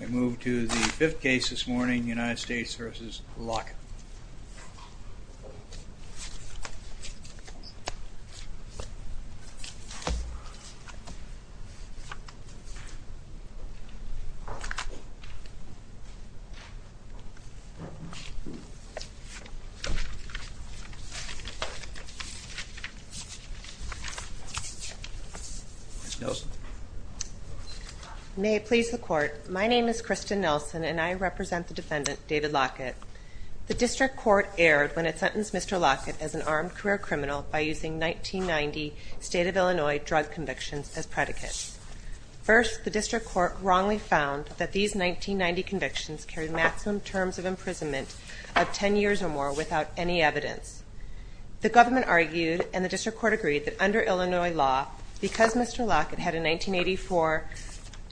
We move to the fifth case this morning, United States v. Lockett. May it please the Court, my name is Kristen Nelson and I represent the defendant, David Lockett. The District Court erred when it sentenced Mr. Lockett as an armed career criminal by using 1990 state of Illinois drug convictions as predicates. First, the District Court wrongly found that these 1990 convictions carried maximum terms of imprisonment of 10 years or more without any evidence. The government argued and the District Court agreed that under Illinois law, because Mr. Lockett had a 1984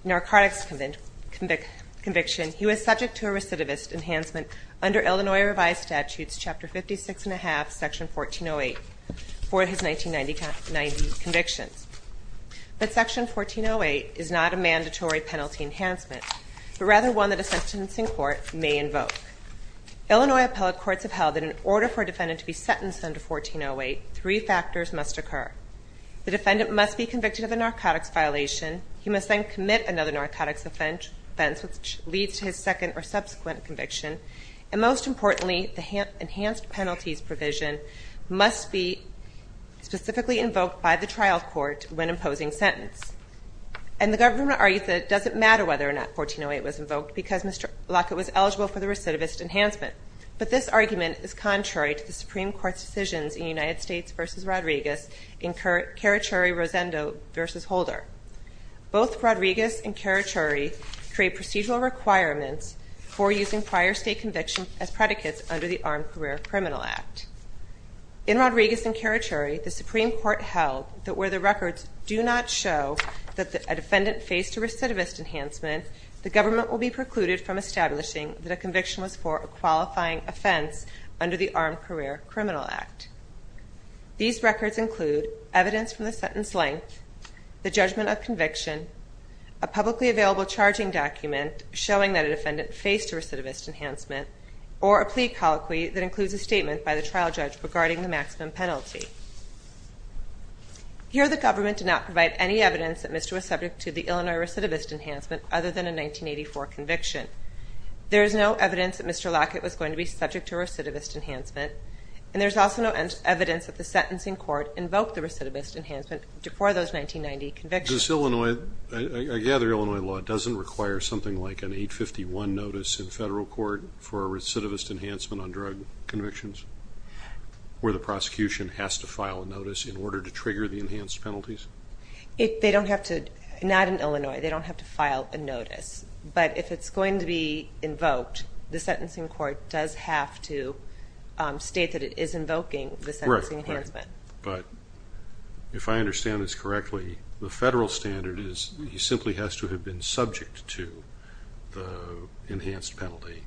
narcotics conviction, he was subject to a recidivist enhancement under Illinois revised statutes, chapter 56 and a half, section 1408, for his 1990 convictions. But section 1408 is not a mandatory penalty enhancement, but rather one that a sentencing court may invoke. Illinois appellate courts have held that in order for a defendant to be sentenced under 1408, three factors must occur. The defendant must be convicted of a narcotics violation, he must then commit another narcotics offense which leads to his second or subsequent conviction, and most importantly, the enhanced penalties provision must be specifically invoked by the trial court when imposing sentence. And the government argued that it doesn't matter whether or not 1408 was invoked because Mr. Lockett was eligible for the recidivist enhancement. But this argument is contrary to the Supreme Court's decisions in United States v. Rodriguez in Carachuri-Rosendo v. Holder. Both Rodriguez and Carachuri create procedural requirements for using prior state conviction as predicates under the Armed Career Criminal Act. In Rodriguez and Carachuri, the Supreme Court held that where the records do not show that a defendant faced a recidivist enhancement, the government will be precluded from establishing that a conviction was for a qualifying offense under the Armed Career Criminal Act. These records include evidence from the sentence length, the judgment of conviction, a publicly available charging document showing that a defendant faced a recidivist enhancement, or a plea colloquy that includes a statement by the trial judge regarding the maximum penalty. Here the government did not provide any evidence that Mr. Lockett was subject to the Illinois recidivist enhancement other than a 1984 conviction. There is no evidence that Mr. Lockett was going to be subject to recidivist enhancement, and there's also no evidence that the sentencing court invoked the recidivist enhancement before those 1990 convictions. Does Illinois, I gather Illinois law doesn't require something like an 851 notice in federal court for a recidivist enhancement on drug convictions, where the prosecution has to file a notice in order to trigger the enhanced penalties? They don't have to, not in Illinois, they don't have to file a notice, but if it's going to be invoked, the sentencing court does have to state that it is invoking the sentencing enhancement. Right. But if I understand this correctly, the federal standard is he simply has to have been subject to the enhanced penalty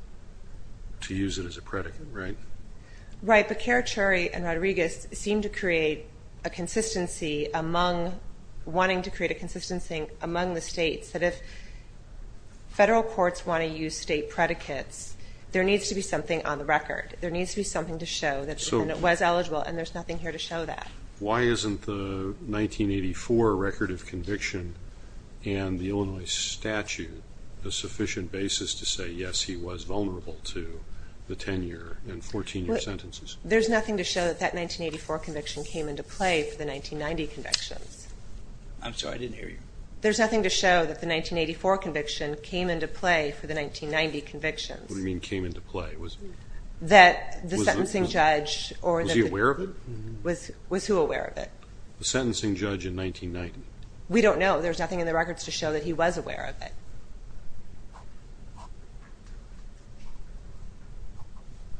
to use it as a predicate, right? Right. But Kerr, Cherry, and Rodriguez seemed to create a consistency among, wanting to create a consistency. If you want to use state predicates, there needs to be something on the record. There needs to be something to show that he was eligible, and there's nothing here to show that. Why isn't the 1984 record of conviction and the Illinois statute the sufficient basis to say, yes, he was vulnerable to the 10-year and 14-year sentences? There's nothing to show that that 1984 conviction came into play for the 1990 convictions. I'm sorry, I didn't hear you. There's nothing to show that the 1984 conviction came into play for the 1990 convictions. What do you mean came into play? That the sentencing judge or the... Was he aware of it? Was who aware of it? The sentencing judge in 1990. We don't know. There's nothing in the records to show that he was aware of it.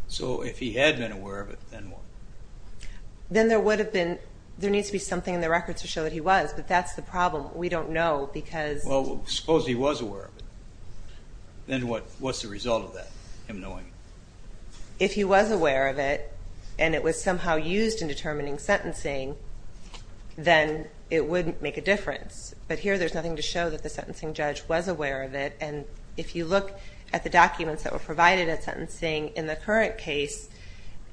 So if he had been aware of it, then what? Then there would have been, there needs to be something in the records to show that he was, but that's the problem. We don't know because... Well, suppose he was aware of it, then what's the result of that, him knowing it? If he was aware of it, and it was somehow used in determining sentencing, then it wouldn't make a difference. But here, there's nothing to show that the sentencing judge was aware of it, and if you look at the documents that were provided at sentencing in the current case,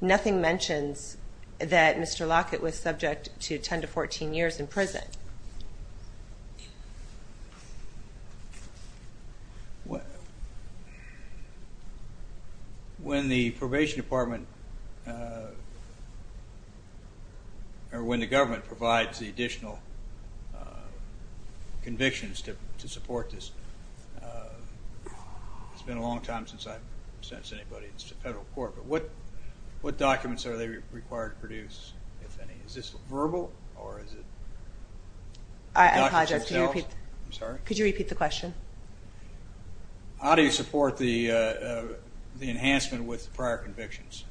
nothing mentions that Mr. Lockett was subject to 10 to 14 years in prison. When the probation department, or when the government provides the additional convictions to support this, it's been a long time since I've sentenced anybody to federal court, but what documents are they required to produce, if any? Is this verbal, or is it... I apologize, could you repeat the question? How do you support the enhancement with prior convictions?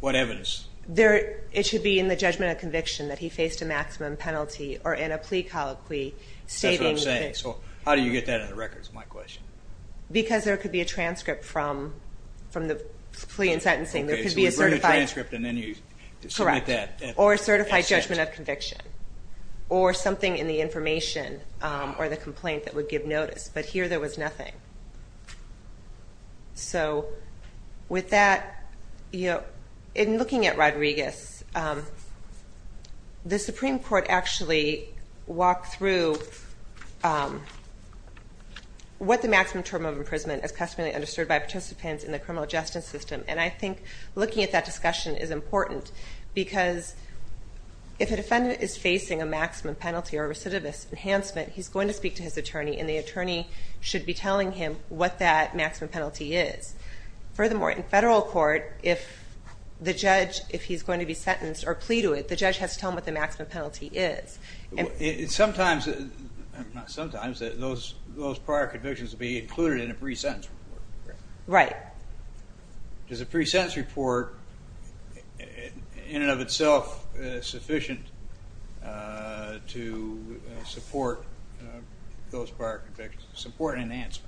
What evidence? There, it should be in the judgment of conviction that he faced a maximum penalty, or in a plea colloquy stating... That's what I'm saying, so how do you get that in the records, is my question. Because there could be a transcript from the plea and sentencing, there could be a certified... Okay, so you've written a transcript, and then you submit that at sent? Correct, or a certified judgment of conviction, or something in the information, or the complaint that would give notice, but here there was nothing. So with that, in looking at Rodriguez, the Supreme Court actually walked through what the maximum term of imprisonment is customarily understood by participants in the criminal justice system, and I think looking at that discussion is important, because if a defendant is facing a maximum penalty or a recidivist enhancement, he's going to speak to his attorney, and the attorney should be telling him what that maximum penalty is. Furthermore, in federal court, if the judge, if he's going to be sentenced or plea to it, the judge has to tell him what the maximum penalty is. Sometimes, not sometimes, those prior convictions will be included in a pre-sentence report. Right. Does a pre-sentence report, in and of itself, sufficient to support those prior convictions, support an enhancement?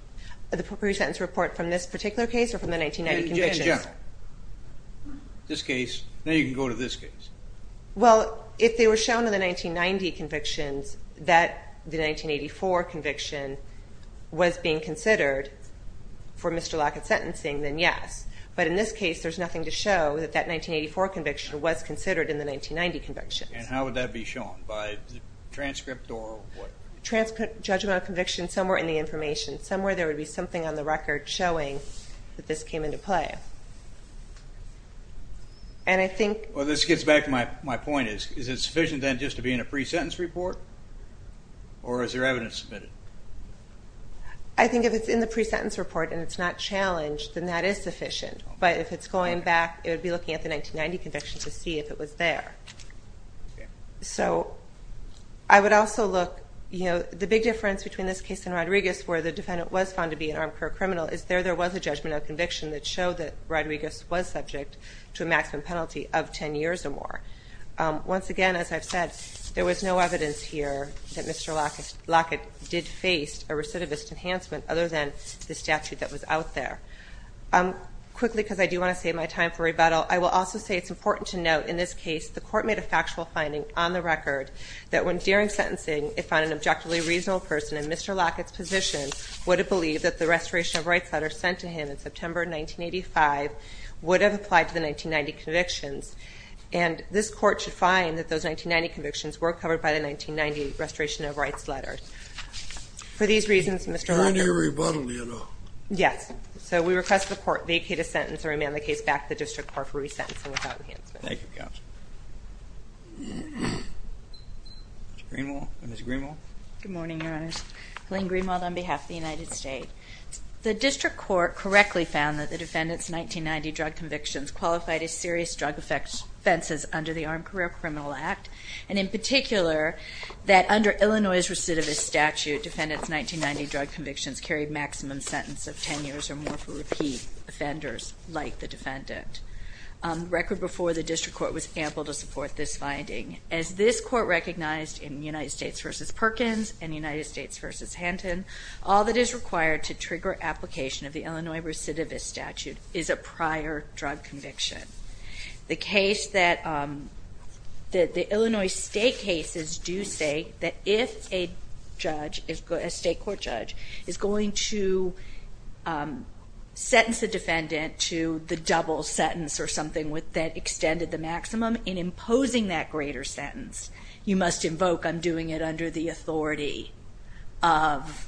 The pre-sentence report from this particular case, or from the 1990 convictions? In general. This case, then you can go to this case. Well, if they were shown in the 1990 convictions that the 1984 conviction was being considered for Mr. Lockett's sentencing, then yes. But in this case, there's nothing to show that that 1984 conviction was considered in the 1990 convictions. And how would that be shown? By transcript or what? Judgment of conviction, somewhere in the information. Somewhere there would be something on the record showing that this came into play. And I think... Well, this gets back to my point. Is it sufficient, then, just to be in a pre-sentence report? Or is there evidence submitted? I think if it's in the pre-sentence report and it's not challenged, then that is sufficient. But if it's going back, it would be looking at the 1990 conviction to see if it was there. Okay. So, I would also look, you know, the big difference between this case and Rodriguez, where the defendant was found to be an armed career criminal, is there was a judgment of conviction that showed that Rodriguez was subject to a maximum penalty of 10 years or more. Once again, as I've said, there was no evidence here that Mr. Lockett did face a recidivist enhancement other than the statute that was out there. Quickly, because I do want to save my time for rebuttal, I will also say it's important to note in this case the court made a factual finding on the record that when during sentencing it found an objectively reasonable person in Mr. Lockett's position would have believed that the restoration of rights letter sent to him in September 1985 would have applied to the 1990 convictions. And this court should find that those 1990 convictions were covered by the 1990 restoration of rights letter. For these reasons, Mr. Lockett... Is there any rebuttal yet, though? Yes. So, we request the court vacate a sentence and remand the case back to the district court for resentencing without enhancement. Ms. Greenwald? Good morning, Your Honors. Helene Greenwald on behalf of the United States. The district court correctly found that the defendant's 1990 drug convictions qualified as serious drug offenses under the Armed Career Criminal Act, and in particular that under Illinois' recidivist statute, defendant's 1990 drug convictions carried maximum sentence of 10 years or more for repeat offenders like the defendant. Record before the district court was ample to support this finding. As this court recognized in United States v. Perkins and United States v. Hanton, all that is required to trigger application of the Illinois recidivist statute is a prior drug conviction. The Illinois state cases do say that if a judge, a state court judge, is going to sentence the defendant to the double sentence or something that extended the maximum, in imposing that greater sentence, you must invoke, I'm doing it under the authority of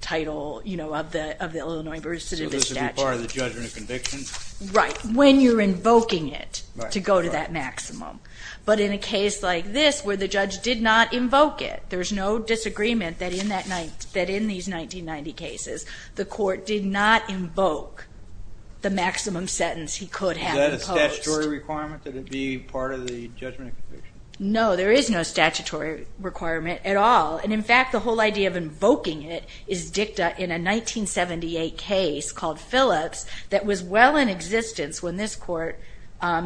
the Illinois recidivist statute. So this would be part of the judgment of conviction? Right. When you're invoking it to go to that maximum. But in a case like this where the judge did not invoke it, there's no disagreement that in these 1990 cases, the court did not invoke the maximum sentence he could have imposed. Is that a statutory requirement that it be part of the judgment of conviction? No, there is no statutory requirement at all. In fact, the whole idea of invoking it is dicta in a 1978 case called Phillips that was well in existence when this court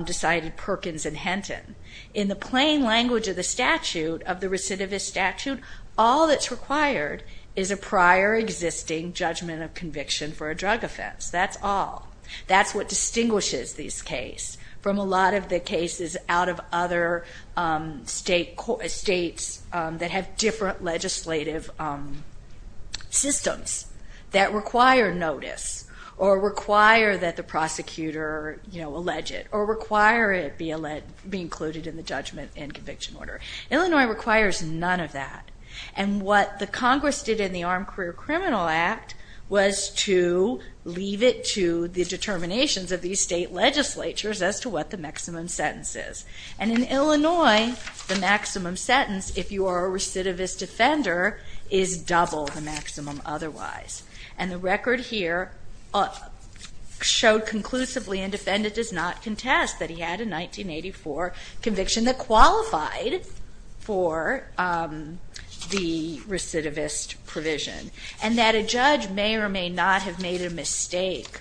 decided Perkins and Hanton. In the plain language of the recidivist statute, all that's required is a prior existing judgment of conviction for a drug offense. That's all. Illinois distinguishes these cases from a lot of the cases out of other states that have different legislative systems that require notice or require that the prosecutor allege it or require it be included in the judgment and conviction order. Illinois requires none of that. And what the Congress did in the Armed Career Criminal Act was to leave it to the determinations of these state legislatures as to what the maximum sentence is. And in Illinois, the maximum sentence if you are a recidivist offender is double the maximum otherwise. And the record here showed conclusively and defendant does not contest that he had a 1984 conviction that qualified for the recidivist provision and that a judge may or may not have made a mistake.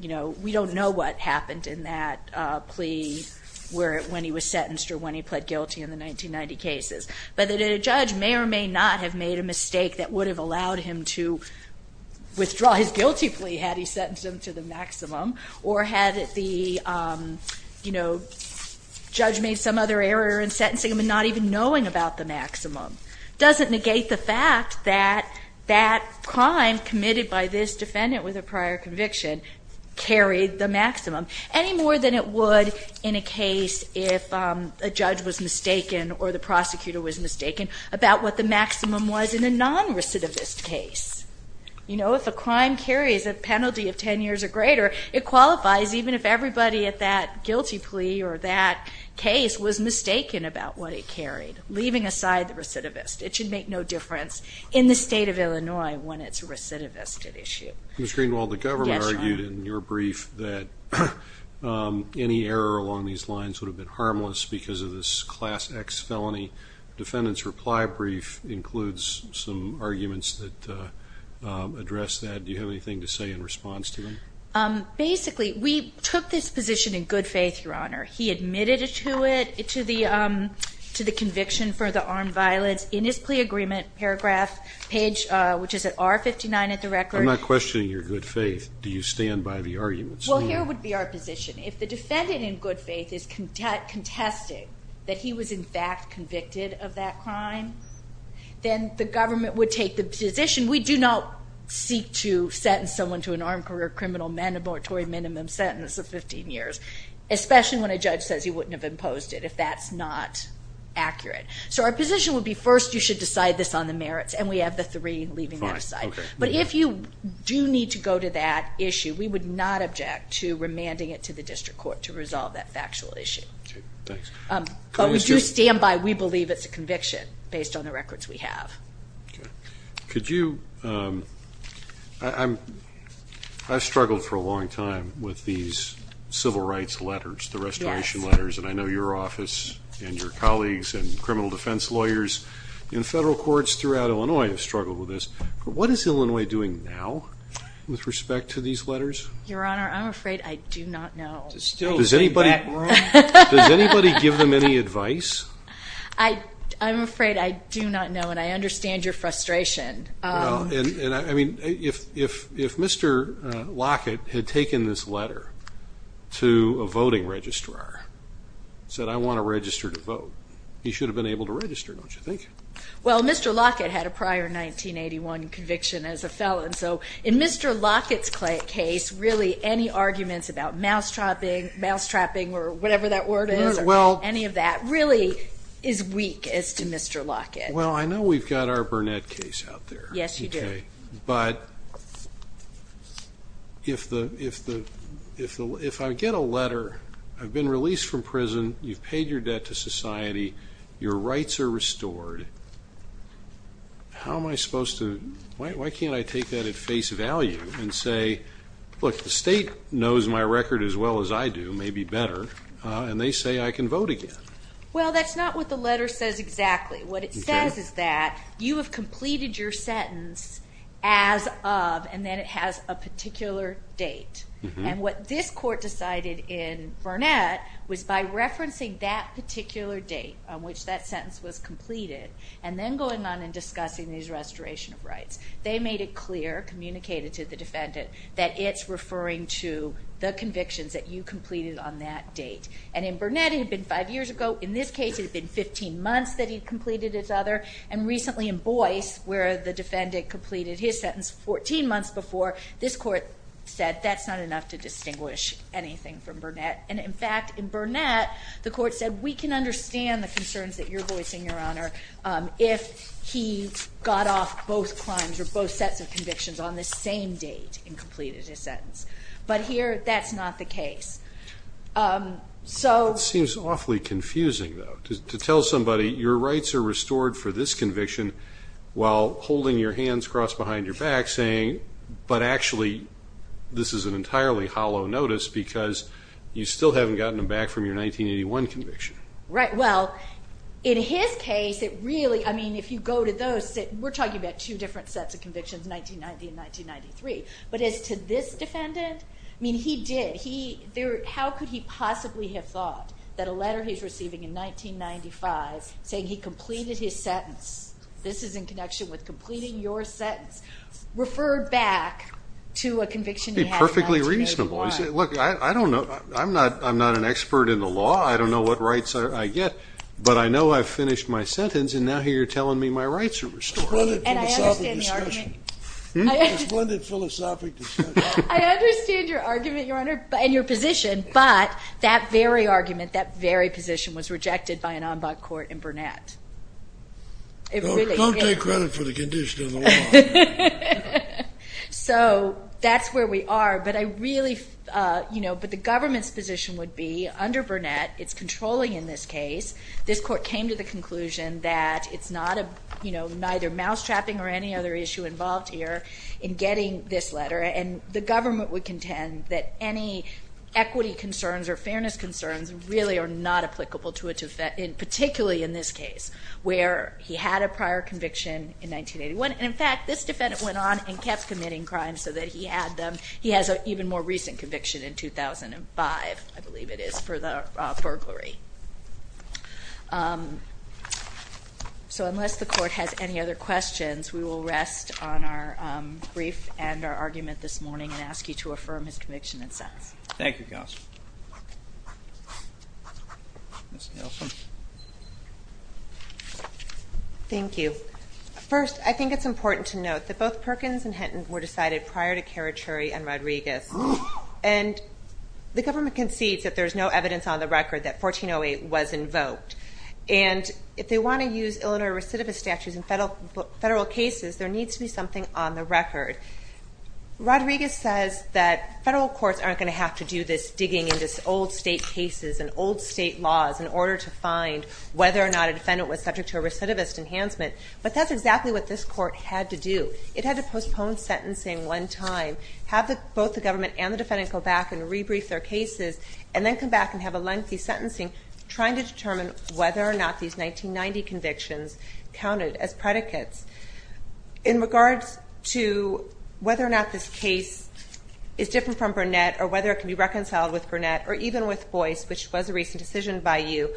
We don't know what happened in that plea when he was sentenced or when he pled guilty in the 1990 cases, but that a judge may or may not have made a mistake that would have allowed him to withdraw his guilty plea had he sentenced him to the maximum or had the judge made some other error in sentencing him and not even knowing about the maximum. It doesn't negate the fact that that crime committed by this defendant with a prior conviction carried the maximum any more than it would in a case if a judge was mistaken or the prosecutor was mistaken about what the maximum was in a non-recidivist case. You know, if a crime carries a penalty of 10 years or greater, it qualifies even if everybody at that guilty plea or that case was mistaken about what it carried, leaving aside the recidivist. It should make no difference in the state of Illinois when it's a recidivist at issue. Ms. Greenwald, the government argued in your brief that any error along these lines would have been harmless because of this Class X felony. The defendant's reply brief includes some arguments that address that. Do you have anything to say in response to them? Basically, we took this position in good faith, Your Honor. He admitted to it, to the conviction for the armed violence in his plea agreement paragraph page, which is at R59 at the record. I'm not questioning your good faith. Do you stand by the arguments? Well, here would be our position. If the defendant in good faith is contesting that he was in fact convicted of that crime, then the government would take the position. We do not seek to sentence someone to an armed career criminal mandatory minimum sentence of 15 years, especially when a judge says he wouldn't have imposed it, if that's not accurate. So our position would be first you should decide this on the merits, and we have the three leaving that aside. But if you do need to go to that issue, we would not object to remanding it to the district court to resolve that factual issue. But we do stand by we believe it's a conviction based on the records we have. I've struggled for a long time with these civil rights letters, the restoration letters, and I know your office and your colleagues and criminal defense lawyers in federal courts throughout Illinois have struggled with this. What is Illinois doing now with respect to these letters? Your Honor, I'm afraid I do not know. Does anybody give them any advice? I'm afraid I do not know, and I understand your frustration. I mean, if Mr. Lockett had taken this letter to a voting registrar, said, I want to register to vote, he should have been able to register, don't you think? Well, Mr. Lockett had a prior 1981 conviction as a felon. So in Mr. Lockett's case, really any arguments about mousetrapping or whatever that word is, any of that, really is weak as to Mr. Lockett. Well, I know we've got our Burnett case out there. Yes, you do. But if I get a letter, I've been released from prison, you've paid your debt to society, your rights are restored, how am I supposed to, why can't I take that at face value and say, look, the state knows my record as well as I do, maybe better, and they say I can vote again? Well, that's not what the letter says exactly. What it says is that you have completed your sentence as of, and then it has a particular date. And what this court decided in Burnett was by referencing that particular date on which that sentence was completed, and then going on and discussing these restoration of rights. They made it clear, communicated to the defendant, that it's referring to the convictions that you completed on that date. And in Burnett, it had been five years ago. In this case, it had been 15 months that he'd completed his other. And recently in Boyce, where the defendant completed his sentence 14 months before, this court said that's not enough to distinguish anything from Burnett. And, in fact, in Burnett, the court said we can understand the concerns that you're voicing, Your Honor, if he got off both crimes or both sets of convictions on the same date and completed his sentence. But here, that's not the case. It seems awfully confusing, though, to tell somebody your rights are restored for this conviction while holding your hands crossed behind your back saying, but actually this is an entirely hollow notice because you still haven't gotten them back from your 1981 conviction. Right. Well, in his case, it really, I mean, if you go to those, we're talking about two different sets of convictions, 1990 and 1993. But as to this defendant, I mean, he did. How could he possibly have thought that a letter he's receiving in 1995 saying he completed his sentence, this is in connection with completing your sentence, referred back to a conviction he had in 1991? It would be perfectly reasonable. Look, I don't know. I'm not an expert in the law. I don't know what rights I get. But I know I've finished my sentence, and now here you're telling me my rights are restored. It's a splendid philosophic discussion. I understand your argument, Your Honor. And your position. But that very argument, that very position, was rejected by an en banc court in Burnett. Don't take credit for the condition of the law. So that's where we are. But the government's position would be, under Burnett, it's controlling in this case. This court came to the conclusion that it's neither mousetrapping or any other issue involved here in getting this letter. And the government would contend that any equity concerns or fairness concerns really are not applicable to a defendant, particularly in this case, where he had a prior conviction in 1981. And in fact, this defendant went on and kept committing crimes so that he had them. He has an even more recent conviction in 2005, I believe it is, for the burglary. So unless the court has any other questions, we will rest on our brief and our argument this morning and ask you to affirm his conviction and sentence. Thank you, Counsel. Ms. Nelson. Thank you. First, I think it's important to note that both Perkins and Hinton were decided prior to Carachuri and Rodriguez. And the government concedes that there's no evidence on the record that 1408 was invoked. And if they want to use Illinois recidivist statutes in federal cases, there needs to be something on the record. Rodriguez says that federal courts aren't going to have to do this digging into old state cases and old state laws in order to find whether or not a defendant was subject to a recidivist enhancement. But that's exactly what this court had to do. It had to postpone sentencing one time, have both the government and the defendant go back and rebrief their cases, and then come back and have a lengthy sentencing trying to determine whether or not these 1990 convictions counted as predicates. In regards to whether or not this case is different from Burnett or whether it can be reconciled with Burnett or even with Boyce, which was a recent decision by you,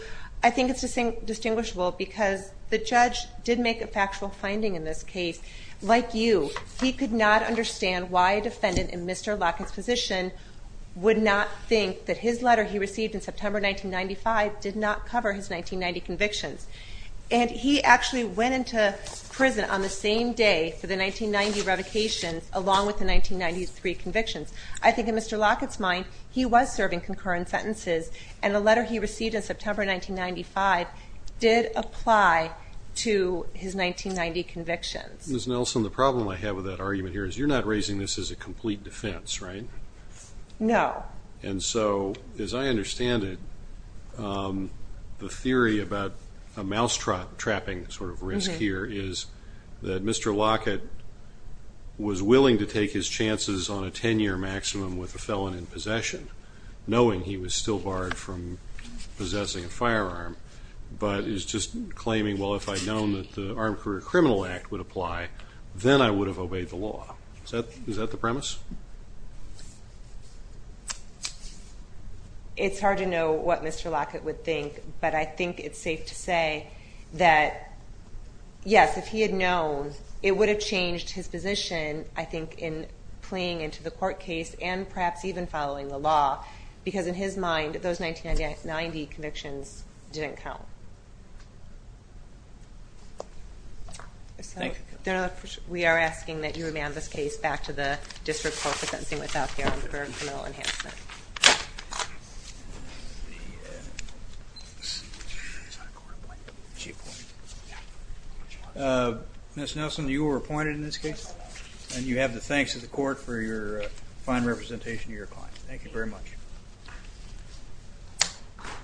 I think it's distinguishable because the judge did make a factual finding in this case. Like you, he could not understand why a defendant in Mr. Lockett's position would not think that his letter he received in September 1995 did not cover his 1990 convictions. And he actually went into prison on the same day for the 1990 revocation, along with the 1993 convictions. I think in Mr. Lockett's mind, he was serving concurrent sentences, and the letter he received in September 1995 did apply to his 1990 convictions. Ms. Nelson, the problem I have with that argument here is you're not raising this as a complete defense, right? No. And so, as I understand it, the theory about a mousetrap trapping sort of risk here is that Mr. Lockett was willing to take his chances on a 10-year maximum with a felon in possession, knowing he was still barred from possessing a firearm, but is just claiming, well, if I'd known that the Armed Career Criminal Act would apply, then I would have obeyed the law. Is that the premise? It's hard to know what Mr. Lockett would think, but I think it's safe to say that, yes, if he had known, it would have changed his position, I think, in playing into the court case and perhaps even following the law, because in his mind, those 1990 convictions didn't count. So we are asking that you remand this case back to the District Court for sentencing without the Armed Career Criminal Enhancement. Ms. Nelson, you were appointed in this case, and you have the thanks of the court for your fine representation of your client. Thank you very much.